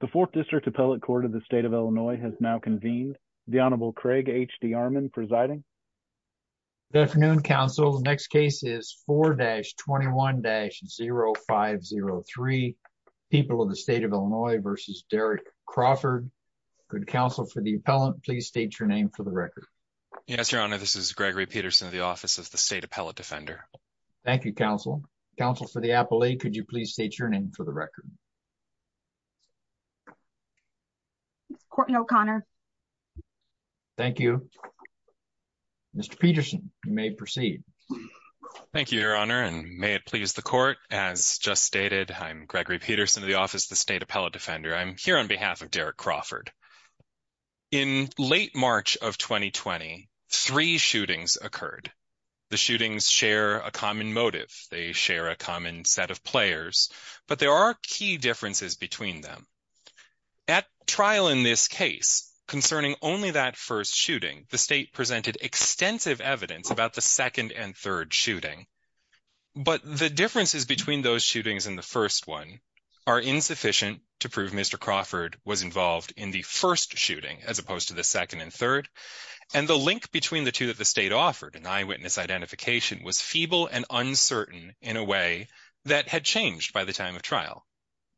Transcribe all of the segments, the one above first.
The 4th District Appellate Court of the State of Illinois has now convened. The Honorable Craig H. D. Armon presiding. Good afternoon, Counsel. The next case is 4-21-0503, People of the State of Illinois v. Derek Crawford. Could Counsel for the Appellant please state your name for the record? Yes, Your Honor. This is Gregory Peterson of the Office of the State Appellate Defender. Thank you, Counsel. Counsel for the Appellate, could you please state your name for the record? Courtney O'Connor. Thank you. Mr. Peterson, you may proceed. Thank you, Your Honor, and may it please the Court. As just stated, I'm Gregory Peterson of the Office of the State Appellate Defender. I'm here on behalf of Derek Crawford. In late March of 2020, three shootings occurred. The shootings share a common motive. They share a common set of players. But there are key differences between them. At trial in this case, concerning only that first shooting, the State presented extensive evidence about the second and third shooting. But the differences between those shootings and the first one are insufficient to prove Mr. Crawford was involved in the first shooting, as opposed to the second and third. And the link between the two that the State offered, an eyewitness identification, was feeble and uncertain in a way that had changed by the time of trial.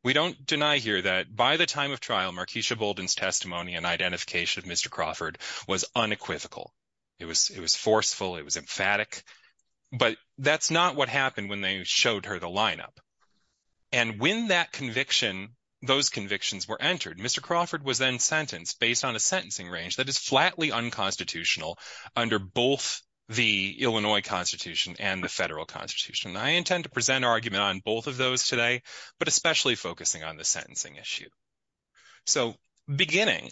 We don't deny here that by the time of trial, Markeisha Bolden's testimony and identification of Mr. Crawford was unequivocal. It was forceful. It was emphatic. But that's not what happened when they showed her the lineup. And when that conviction, those convictions were entered, Mr. Crawford was then sentenced based on a sentencing range that is flatly unconstitutional under both the Illinois Constitution and the federal Constitution. I intend to present argument on both of those today, but especially focusing on the sentencing issue. So beginning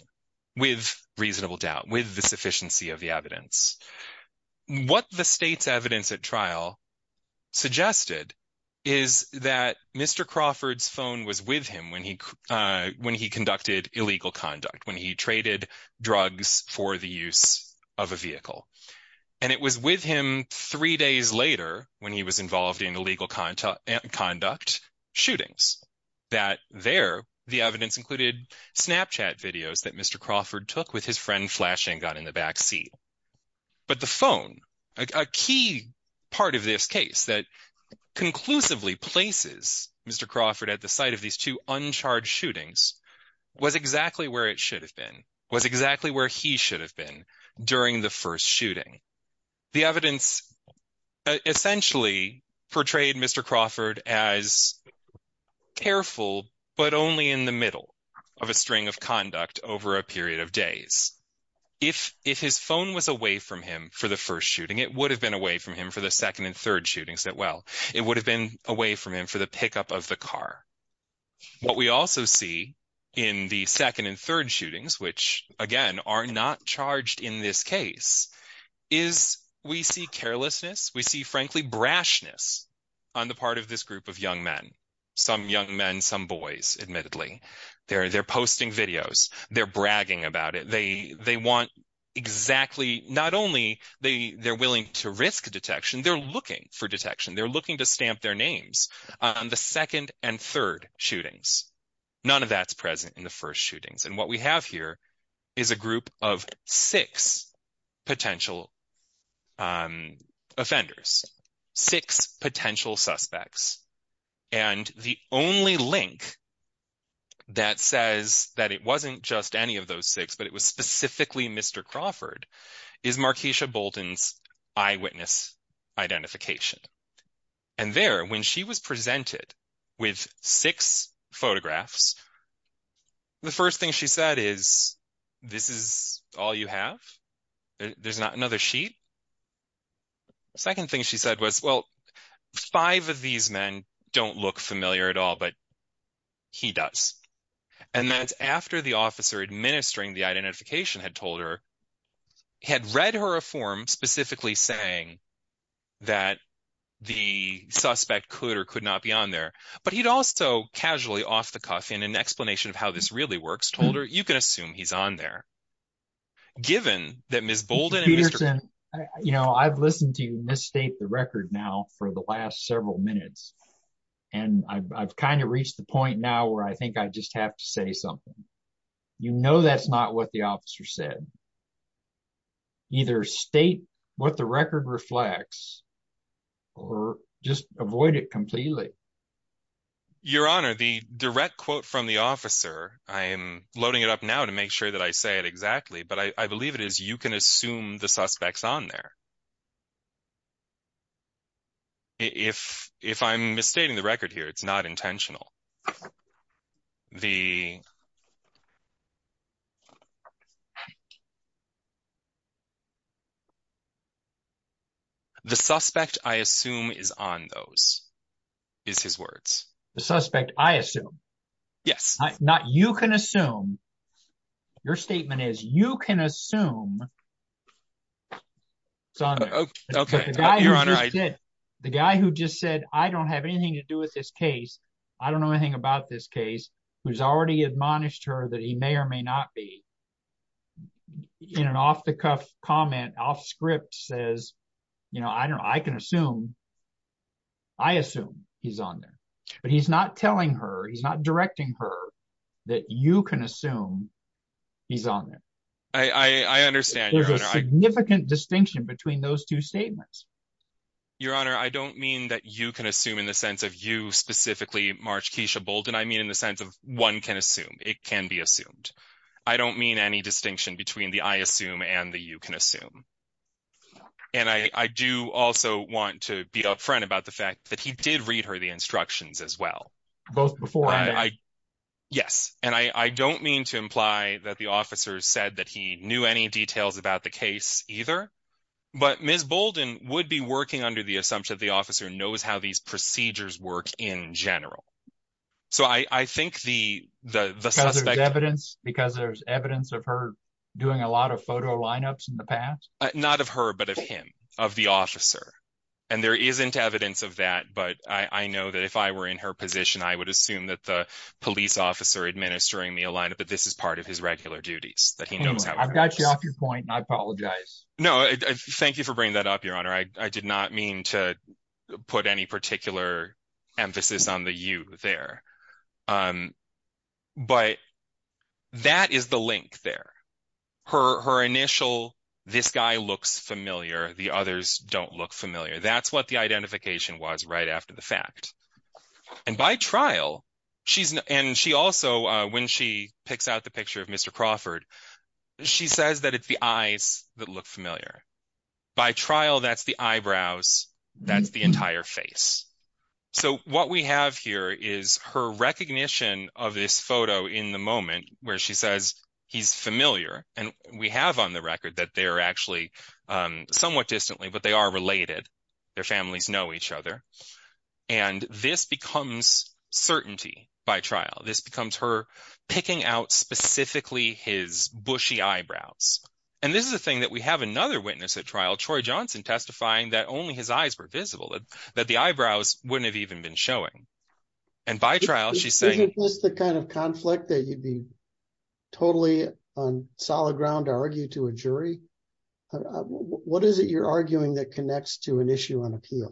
with reasonable doubt, with the sufficiency of the evidence, what the State's evidence at trial suggested is that Mr. Crawford's phone was with him when he conducted illegal conduct, when he traded drugs for the use of a vehicle. And it was with him three days later when he was involved in illegal conduct shootings that there the evidence included Snapchat videos that Mr. Crawford took with his friend flashing gun in the backseat. But the phone, a key part of this case that conclusively places Mr. Crawford at the site of these two uncharged shootings, was exactly where it should have been, was exactly where he should have been during the first shooting. The evidence essentially portrayed Mr. Crawford as careful, but only in the middle of a string of conduct over a period of days. If his phone was away from him for the first shooting, it would have been away from him for the second and third shootings as well. It would have been away from him for the pickup of the car. What we also see in the second and third shootings, which again are not charged in this case, is we see carelessness, we see frankly brashness on the part of this group of young men. Some young men, some boys admittedly. They're posting videos. They're bragging about it. They want exactly, not only they're willing to risk detection, they're looking for detection. They're looking to stamp their names on the second and third shootings. None of that's present in the first shootings. What we have here is a group of six potential offenders, six potential suspects. The only link that says that it wasn't just any of those six, but it was specifically Mr. Crawford, is Markeisha Bolton's eyewitness identification. And there, when she was presented with six photographs, the first thing she said is, this is all you have? There's not another sheet? Second thing she said was, well, five of these men don't look familiar at all, but he does. And that's after the officer administering the identification had told her, had read her a form specifically saying that the suspect could or could not be on there. But he'd also casually, off the cuff, in an explanation of how this really works, told her, you can assume he's on there. Given that Ms. Bolton and Mr. Crawford... You know, I've listened to you misstate the record now for the last several minutes. And I've kind of reached the point now where I think I just have to say something. You know that's not what the officer said. Either state what the record reflects, or just avoid it completely. Your Honor, the direct quote from the officer, I am loading it up now to make sure that I say it exactly, but I believe it is, you can assume the suspect's on there. If I'm misstating the record here, it's not intentional. The suspect, I assume, is on those, is his words. The suspect, I assume? Yes. Not, you can assume. Your statement is, you can assume he's on there. The guy who just said, I don't have anything to do with this case. I don't know anything about this case. Who's already admonished her that he may or may not be. In an off-the-cuff comment, off-script, says, I can assume. I assume he's on there. But he's not telling her, he's not directing her that you can assume he's on there. I understand, Your Honor. There's a significant distinction between those two statements. Your Honor, I don't mean that you can assume in the sense of you specifically, Marge Keisha Bolden. I mean in the sense of one can assume. It can be assumed. I don't mean any distinction between the I assume and the you can assume. And I do also want to be upfront about the fact that he did read her the instructions as well. Both before and after. Yes. And I don't mean to imply that the officer said that he knew any details about the case either. But Ms. Bolden would be working under the assumption that the officer knows how these procedures work in general. Because there's evidence of her doing a lot of photo lineups in the past? Not of her, but of him. Of the officer. And there isn't evidence of that. But I know that if I were in her position, I would assume that the police officer administering the lineups, that this is part of his regular duties. I've got you off your point and I apologize. No, thank you for bringing that up, Your Honor. I did not mean to put any particular emphasis on the you there. But that is the link there. Her initial, this guy looks familiar. The others don't look familiar. That's what the identification was right after the fact. And by trial, and she also, when she picks out the picture of Mr. Crawford, she says that it's the eyes that look familiar. By trial, that's the eyebrows. That's the entire face. So what we have here is her recognition of this photo in the moment where she says he's familiar. And we have on the record that they're actually somewhat distantly, but they are related. Their families know each other. And this becomes certainty by trial. This becomes her picking out specifically his bushy eyebrows. And this is the thing that we have another witness at trial, Troy Johnson, testifying that only his eyes were visible, that the eyebrows wouldn't have even been showing. And by trial, she's saying. Isn't this the kind of conflict that you'd be totally on solid ground to argue to a jury? What is it you're arguing that connects to an issue on appeal?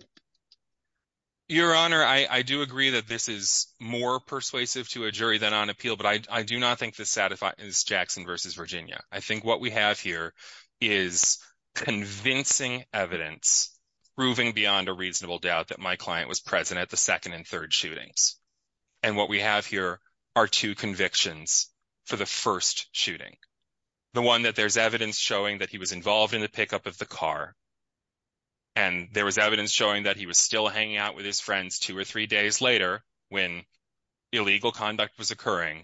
Your Honor, I do agree that this is more persuasive to a jury than on appeal. But I do not think this satisfies Jackson versus Virginia. I think what we have here is convincing evidence proving beyond a reasonable doubt that my client was present at the second and third shootings. And what we have here are two convictions for the first shooting. The one that there's evidence showing that he was involved in the pickup of the car. And there was evidence showing that he was still hanging out with his friends two or three days later when illegal conduct was occurring.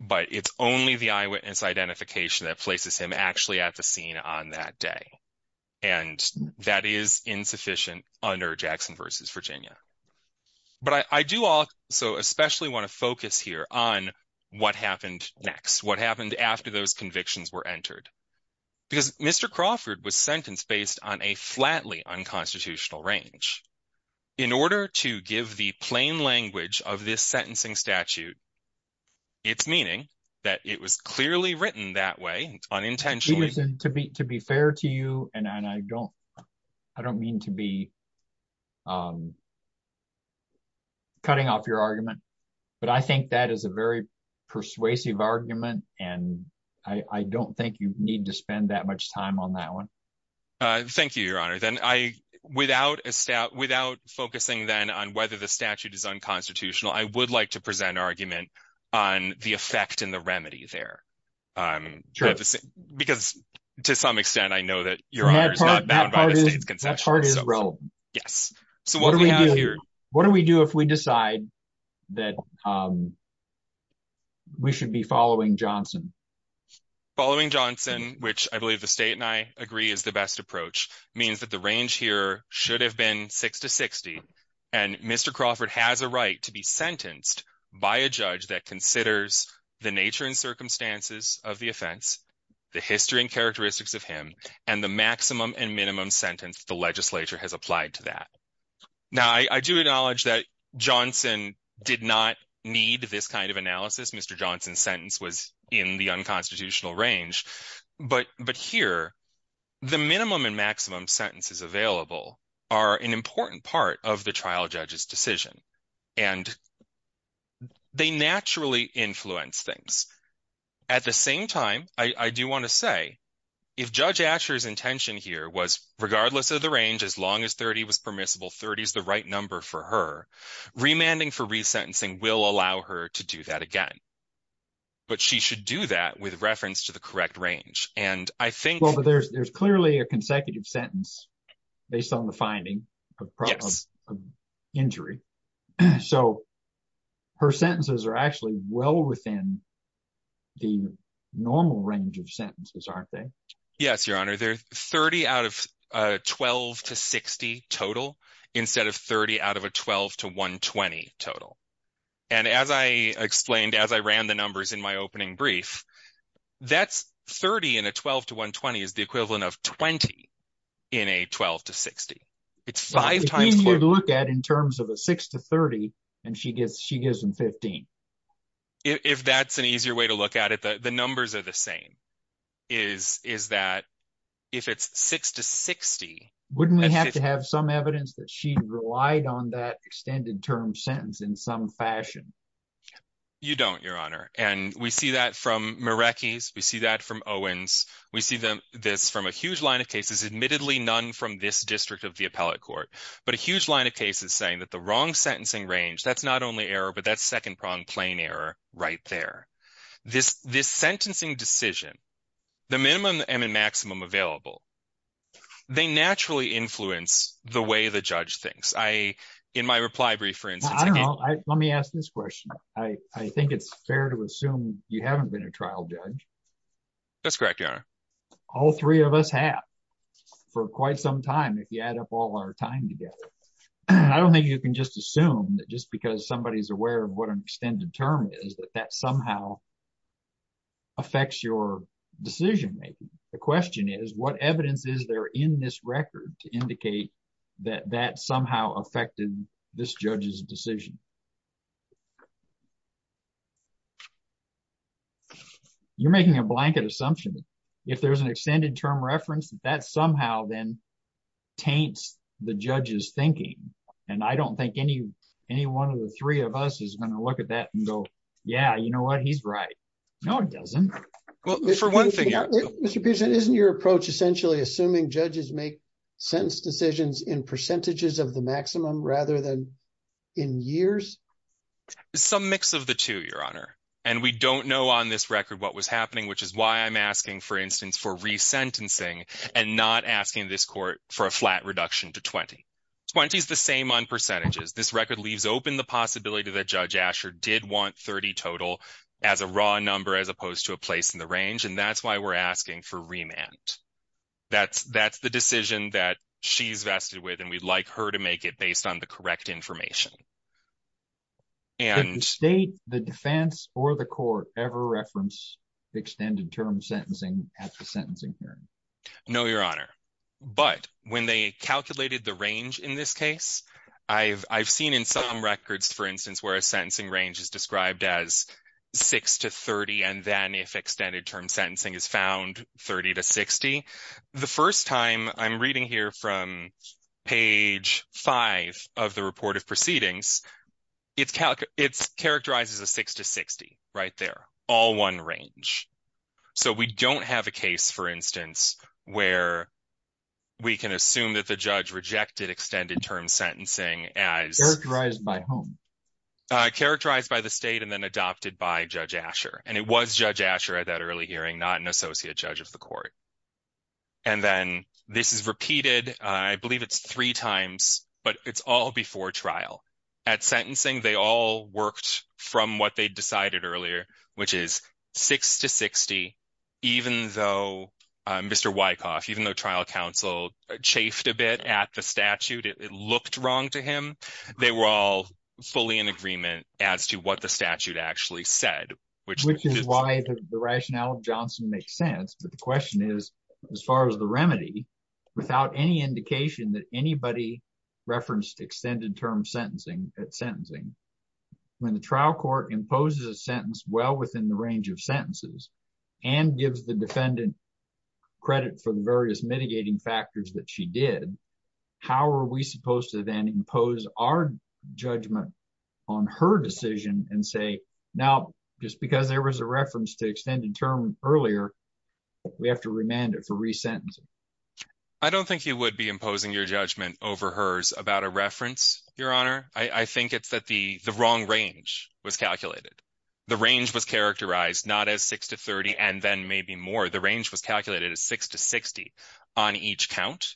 But it's only the eyewitness identification that places him actually at the scene on that day. And that is insufficient under Jackson versus Virginia. But I do also especially want to focus here on what happened next, what happened after those convictions were entered. Because Mr. Crawford was sentenced based on a flatly unconstitutional range. In order to give the plain language of this sentencing statute, it's meaning that it was clearly written that way unintentionally. To be fair to you, and I don't mean to be cutting off your argument. But I think that is a very persuasive argument, and I don't think you need to spend that much time on that one. Thank you, Your Honor. Without focusing then on whether the statute is unconstitutional, I would like to present our argument on the effect and the remedy there. Because to some extent, I know that Your Honor is not bound by the state's concession. That part is relevant. Yes. So what do we do if we decide that we should be following Johnson? Following Johnson, which I believe the state and I agree is the best approach, means that the range here should have been 6 to 60. And Mr. Crawford has a right to be sentenced by a judge that considers the nature and circumstances of the offense, the history and characteristics of him, and the maximum and minimum sentence the legislature has applied to that. Now, I do acknowledge that Johnson did not need this kind of analysis. Mr. Johnson's sentence was in the unconstitutional range. But here, the minimum and maximum sentences available are an important part of the trial judge's decision. And they naturally influence things. At the same time, I do want to say, if Judge Asher's intention here was regardless of the range, as long as 30 was permissible, 30 is the right number for her, remanding for resentencing will allow her to do that again. But she should do that with reference to the correct range. And I think... Well, but there's clearly a consecutive sentence based on the finding of problems of injury. So her sentences are actually well within the normal range of sentences, aren't they? Yes, Your Honor. They're 30 out of 12 to 60 total instead of 30 out of a 12 to 120 total. And as I explained, as I ran the numbers in my opening brief, that's 30 in a 12 to 120 is the equivalent of 20 in a 12 to 60. It's five times... It's easier to look at in terms of a 6 to 30, and she gives them 15. If that's an easier way to look at it, the numbers are the same. Is that if it's 6 to 60... Wouldn't we have to have some evidence that she relied on that extended term sentence in some fashion? You don't, Your Honor. And we see that from Marecki's. We see that from Owens. We see this from a huge line of cases, admittedly none from this district of the appellate court. But a huge line of cases saying that the wrong sentencing range, that's not only error, but that's second-pronged plain error right there. This sentencing decision, the minimum and the maximum available, they naturally influence the way the judge thinks. In my reply brief, for instance... Let me ask this question. I think it's fair to assume you haven't been a trial judge. That's correct, Your Honor. All three of us have for quite some time, if you add up all our time together. I don't think you can just assume that just because somebody's aware of what an extended term is, that that somehow affects your decision-making. The question is, what evidence is there in this record to indicate that that somehow affected this judge's decision? You're making a blanket assumption. If there's an extended term reference, that somehow then taints the judge's thinking. And I don't think any one of the three of us is going to look at that and go, yeah, you know what, he's right. No, it doesn't. Mr. Peterson, isn't your approach essentially assuming judges make sentence decisions in percentages of the maximum rather than in years? Some mix of the two, Your Honor. And we don't know on this record what was happening, which is why I'm asking, for instance, for resentencing and not asking this court for a flat reduction to 20. 20 is the same on percentages. This record leaves open the possibility that Judge Asher did want 30 total as a raw number as opposed to a place in the range. And that's why we're asking for remand. That's the decision that she's vested with, and we'd like her to make it based on the correct information. Did the state, the defense, or the court ever reference extended term sentencing at the sentencing hearing? No, Your Honor. But when they calculated the range in this case, I've seen in some records, for instance, where a sentencing range is described as 6 to 30, and then if extended term sentencing is found, 30 to 60. The first time I'm reading here from page 5 of the report of proceedings, it's characterized as a 6 to 60 right there, all one range. So we don't have a case, for instance, where we can assume that the judge rejected extended term sentencing as… Characterized by whom? Characterized by the state and then adopted by Judge Asher. And it was Judge Asher at that early hearing, not an associate judge of the court. And then this is repeated, I believe it's three times, but it's all before trial. At sentencing, they all worked from what they decided earlier, which is 6 to 60, even though Mr. Wyckoff, even though trial counsel chafed a bit at the statute, it looked wrong to him. They were all fully in agreement as to what the statute actually said. Which is why the rationale of Johnson makes sense. But the question is, as far as the remedy, without any indication that anybody referenced extended term sentencing at sentencing, when the trial court imposes a sentence well within the range of sentences and gives the defendant credit for the various mitigating factors that she did, how are we supposed to then impose our judgment on her decision and say, now, just because there was a reference to extended term earlier, we have to remand it for resentencing? I don't think you would be imposing your judgment over hers about a reference, Your Honor. I think it's that the wrong range was calculated. The range was characterized not as 6 to 30 and then maybe more. The range was calculated as 6 to 60 on each count.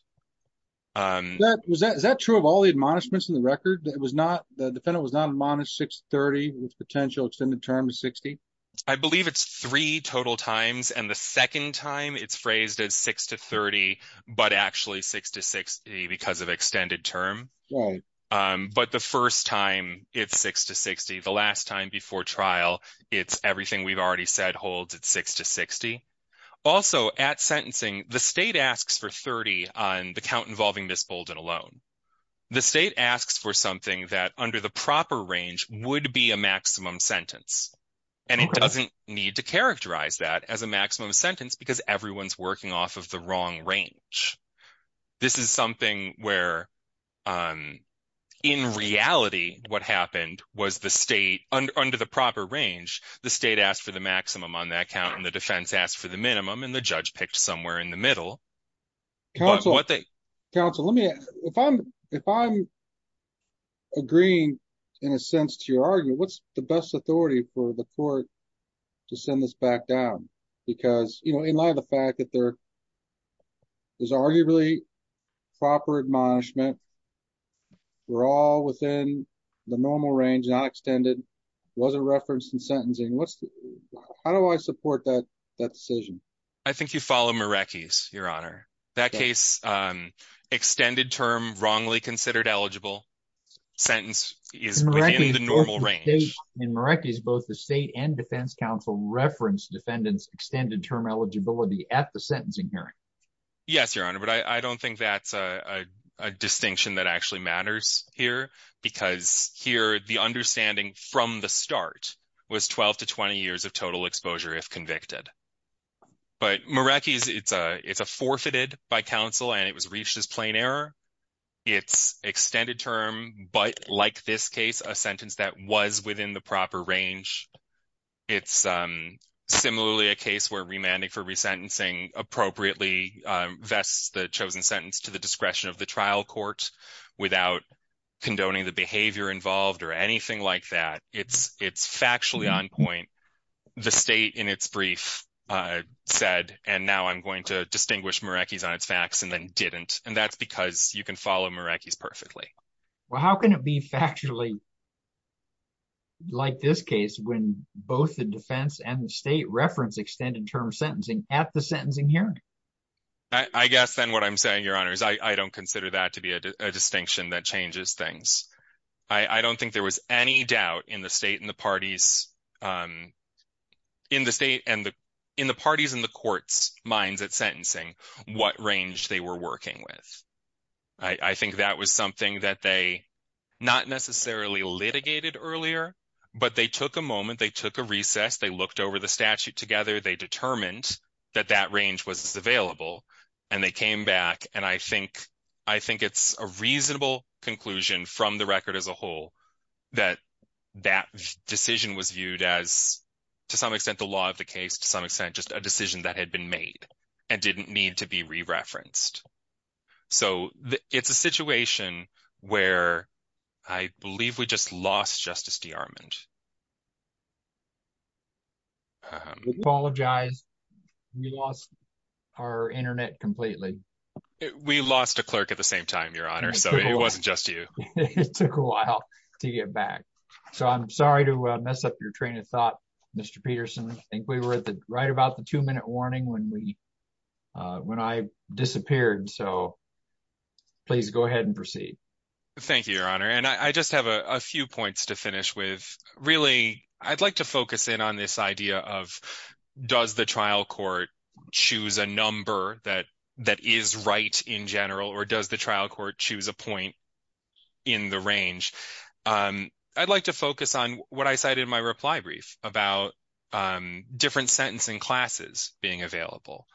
Is that true of all the admonishments in the record? The defendant was not admonished 6 to 30 with potential extended term to 60? I believe it's three total times. And the second time it's phrased as 6 to 30, but actually 6 to 60 because of extended term. But the first time it's 6 to 60. The last time before trial, it's everything we've already said holds at 6 to 60. Also, at sentencing, the state asks for 30 on the count involving Ms. Bolden alone. The state asks for something that under the proper range would be a maximum sentence. And it doesn't need to characterize that as a maximum sentence because everyone's working off of the wrong range. This is something where, in reality, what happened was the state, under the proper range, the state asked for the maximum on that count and the defense asked for the minimum and the judge picked somewhere in the middle. Counsel, if I'm agreeing, in a sense, to your argument, what's the best authority for the court to send this back down? Because in light of the fact that there is arguably proper admonishment, we're all within the normal range, not extended, wasn't referenced in sentencing. How do I support that decision? I think you follow Marecki's, Your Honor. That case, extended term, wrongly considered eligible. Sentence is within the normal range. In Marecki's, both the state and defense counsel referenced defendant's extended term eligibility at the sentencing hearing. Yes, Your Honor, but I don't think that's a distinction that actually matters here. Because here, the understanding from the start was 12 to 20 years of total exposure if convicted. But Marecki's, it's a forfeited by counsel and it was reached as plain error. It's extended term, but like this case, a sentence that was within the proper range. It's similarly a case where remanding for resentencing appropriately vests the chosen sentence to the discretion of the trial court without condoning the behavior involved or anything like that. It's factually on point. The state in its brief said, and now I'm going to distinguish Marecki's on its facts and then didn't. And that's because you can follow Marecki's perfectly. Well, how can it be factually like this case when both the defense and the state reference extended term sentencing at the sentencing hearing? I guess then what I'm saying, Your Honor, is I don't consider that to be a distinction that changes things. I don't think there was any doubt in the state and the parties in the court's minds at sentencing what range they were working with. I think that was something that they not necessarily litigated earlier, but they took a moment. They took a recess. They looked over the statute together. They determined that that range was available, and they came back. And I think it's a reasonable conclusion from the record as a whole that that decision was viewed as, to some extent, the law of the case, to some extent, just a decision that had been made and didn't need to be re-referenced. So it's a situation where I believe we just lost Justice DeArmond. I apologize. We lost our Internet completely. We lost a clerk at the same time, Your Honor, so it wasn't just you. It took a while to get back. So I'm sorry to mess up your train of thought, Mr. Peterson. I think we were right about the two-minute warning when I disappeared. So please go ahead and proceed. Thank you, Your Honor. And I just have a few points to finish with. Really, I'd like to focus in on this idea of does the trial court choose a number that is right in general, or does the trial court choose a point in the range? I'd like to focus on what I cited in my reply brief about different sentencing classes being available.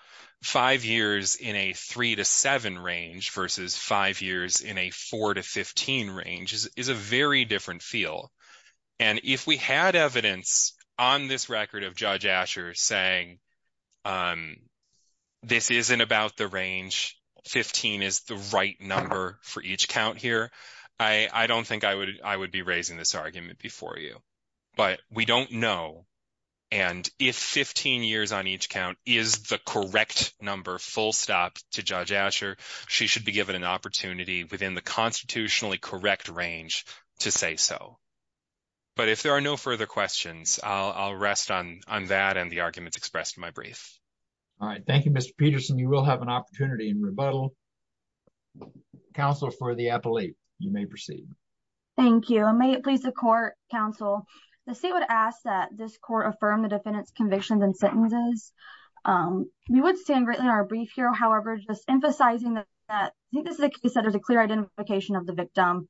Five years in a 3-7 range versus five years in a 4-15 range is a very different feel. And if we had evidence on this record of Judge Asher saying this isn't about the range, 15 is the right number for each count here, I don't think I would be raising this argument before you. But we don't know. And if 15 years on each count is the correct number, full stop, to Judge Asher, she should be given an opportunity within the constitutionally correct range to say so. But if there are no further questions, I'll rest on that and the arguments expressed in my brief. All right. Thank you, Mr. Peterson. You will have an opportunity in rebuttal. Counsel for the appellate, you may proceed. Thank you. May it please the court, counsel. The state would ask that this court affirm the defendant's convictions and sentences. We would stand greatly in our brief here, however, just emphasizing that this is a case that there's a clear identification of the victim.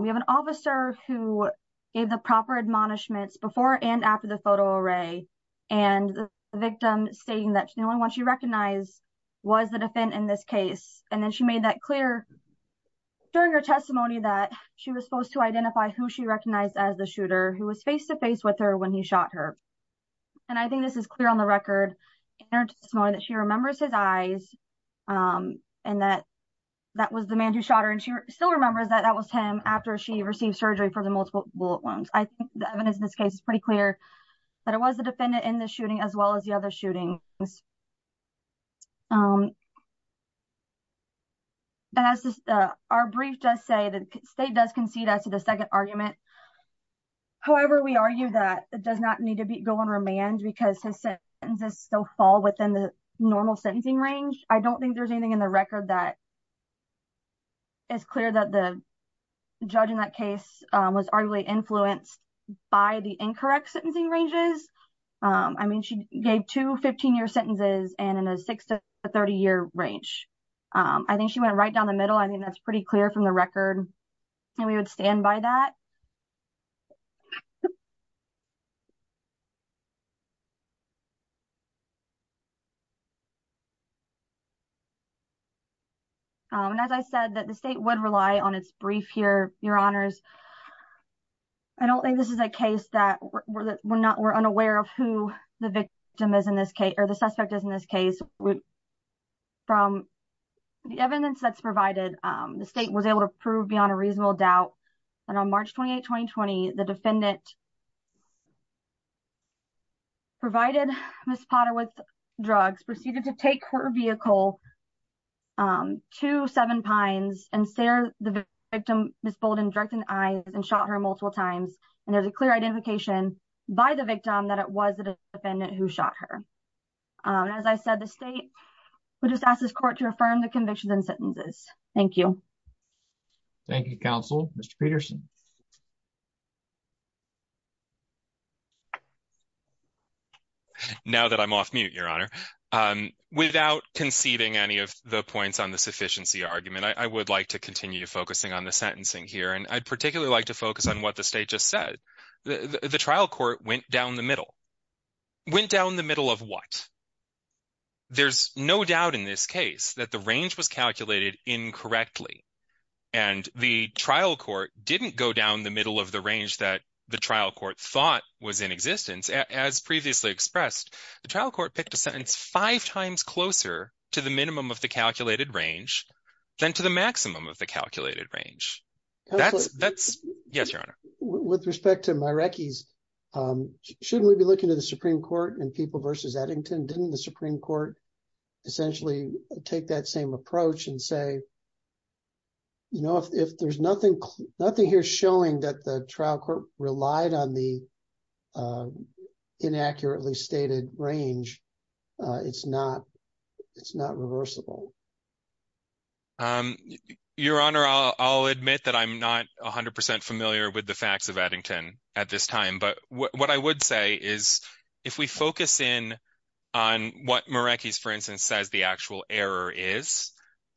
We have an officer who gave the proper admonishments before and after the photo array, and the victim stating that the only one she recognized was the defendant in this case. And then she made that clear during her testimony that she was supposed to identify who she recognized as the shooter who was face-to-face with her when he shot her. And I think this is clear on the record in her testimony that she remembers his eyes and that that was the man who shot her. And she still remembers that that was him after she received surgery for the multiple bullet wounds. I think the evidence in this case is pretty clear that it was the defendant in the shooting as well as the other shootings. And as our brief does say, the state does concede as to the second argument. However, we argue that it does not need to go on remand because his sentences still fall within the normal sentencing range. I don't think there's anything in the record that is clear that the judge in that case was arguably influenced by the incorrect sentencing ranges. I mean, she gave two 15-year sentences and in a 6- to 30-year range. I think she went right down the middle. I mean, that's pretty clear from the record. And we would stand by that. And as I said, the state would rely on its brief here, Your Honors. I don't think this is a case that we're unaware of who the victim is in this case or the suspect is in this case. From the evidence that's provided, the state was able to prove beyond a reasonable doubt that on March 28, 2020, the defendant provided Ms. Potter with drugs, proceeded to take her vehicle to Seven Pines and stare the victim, Ms. Bolden, directly in the eyes and shot her multiple times. And there's a clear identification by the victim that it was the defendant who shot her. As I said, the state would just ask this court to affirm the convictions and sentences. Thank you. Thank you, Counsel. Mr. Peterson. Now that I'm off mute, Your Honor, without conceding any of the points on the sufficiency argument, I would like to continue focusing on the sentencing here. And I'd particularly like to focus on what the state just said. The trial court went down the middle. Went down the middle of what? There's no doubt in this case that the range was calculated incorrectly. And the trial court didn't go down the middle of the range that the trial court thought was in existence. As previously expressed, the trial court picked a sentence five times closer to the minimum of the calculated range than to the maximum of the calculated range. Yes, Your Honor. With respect to my recce's, shouldn't we be looking to the Supreme Court and people versus Eddington? Didn't the Supreme Court essentially take that same approach and say, you know, if there's nothing nothing here showing that the trial court relied on the inaccurately stated range, it's not it's not reversible. Your Honor, I'll admit that I'm not 100 percent familiar with the facts of Eddington at this time. But what I would say is if we focus in on what Meraki's, for instance, says the actual error is,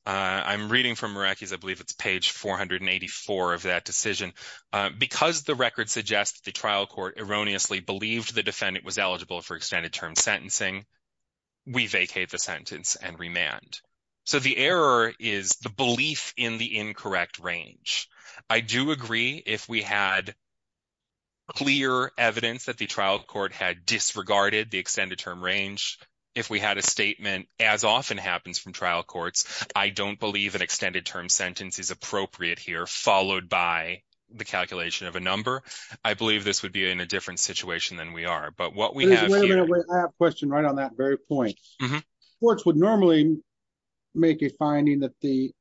I'm reading from Meraki's. I believe it's page 484 of that decision because the record suggests the trial court erroneously believed the defendant was eligible for extended term sentencing. We vacate the sentence and remand. So the error is the belief in the incorrect range. I do agree if we had clear evidence that the trial court had disregarded the extended term range. If we had a statement, as often happens from trial courts, I don't believe an extended term sentence is appropriate here, followed by the calculation of a number. I believe this would be in a different situation than we are. I have a question right on that very point. Courts would normally make a finding that the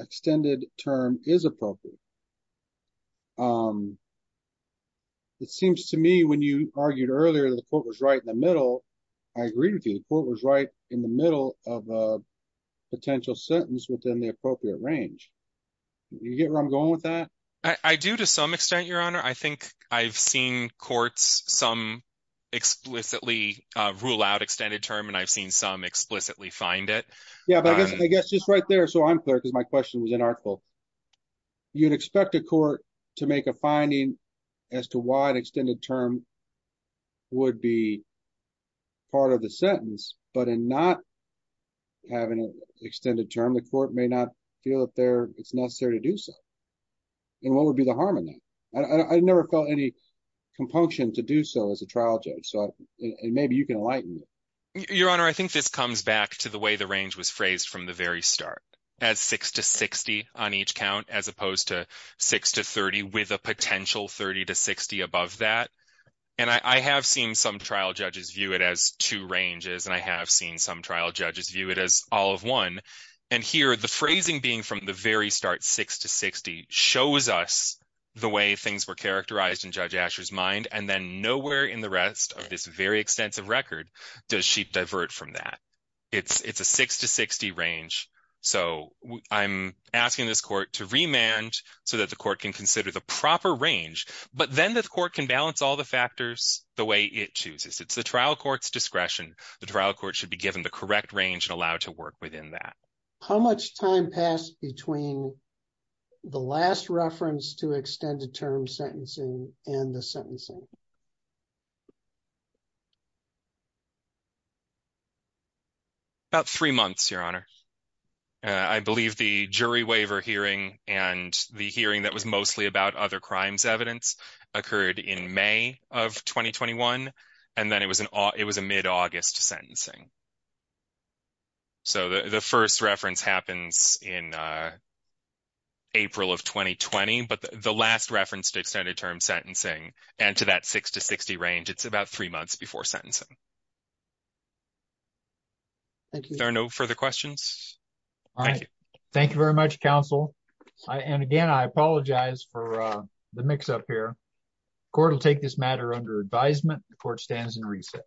extended term is appropriate. It seems to me when you argued earlier that the court was right in the middle, I agree with you, the court was right in the middle of a potential sentence within the appropriate range. Do you get where I'm going with that? I do to some extent, Your Honor. I think I've seen courts some explicitly rule out extended term, and I've seen some explicitly find it. Yeah, but I guess just right there, so I'm clear because my question was inartful. You'd expect a court to make a finding as to why an extended term would be part of the sentence, but in not having an extended term, the court may not feel that it's necessary to do so. And what would be the harm in that? I never felt any compunction to do so as a trial judge, so maybe you can enlighten me. Your Honor, I think this comes back to the way the range was phrased from the very start as 6 to 60 on each count as opposed to 6 to 30 with a potential 30 to 60 above that. And I have seen some trial judges view it as two ranges, and I have seen some trial judges view it as all of one. And here, the phrasing being from the very start 6 to 60 shows us the way things were characterized in Judge Asher's mind, and then nowhere in the rest of this very extensive record does she divert from that. It's a 6 to 60 range, so I'm asking this court to remand so that the court can consider the proper range, but then the court can balance all the factors the way it chooses. It's the trial court's discretion. The trial court should be given the correct range and allowed to work within that. How much time passed between the last reference to extended term sentencing and the sentencing? About three months, Your Honor. I believe the jury waiver hearing and the hearing that was mostly about other crimes evidence occurred in May of 2021, and then it was a mid-August sentencing. So the first reference happens in April of 2020, but the last reference to extended term sentencing and to that 6 to 60 range, it's about three months before sentencing. Thank you. Are there no further questions? All right. Thank you very much, counsel. And again, I apologize for the mix-up here. The court will take this matter under advisement. The court stands in recess.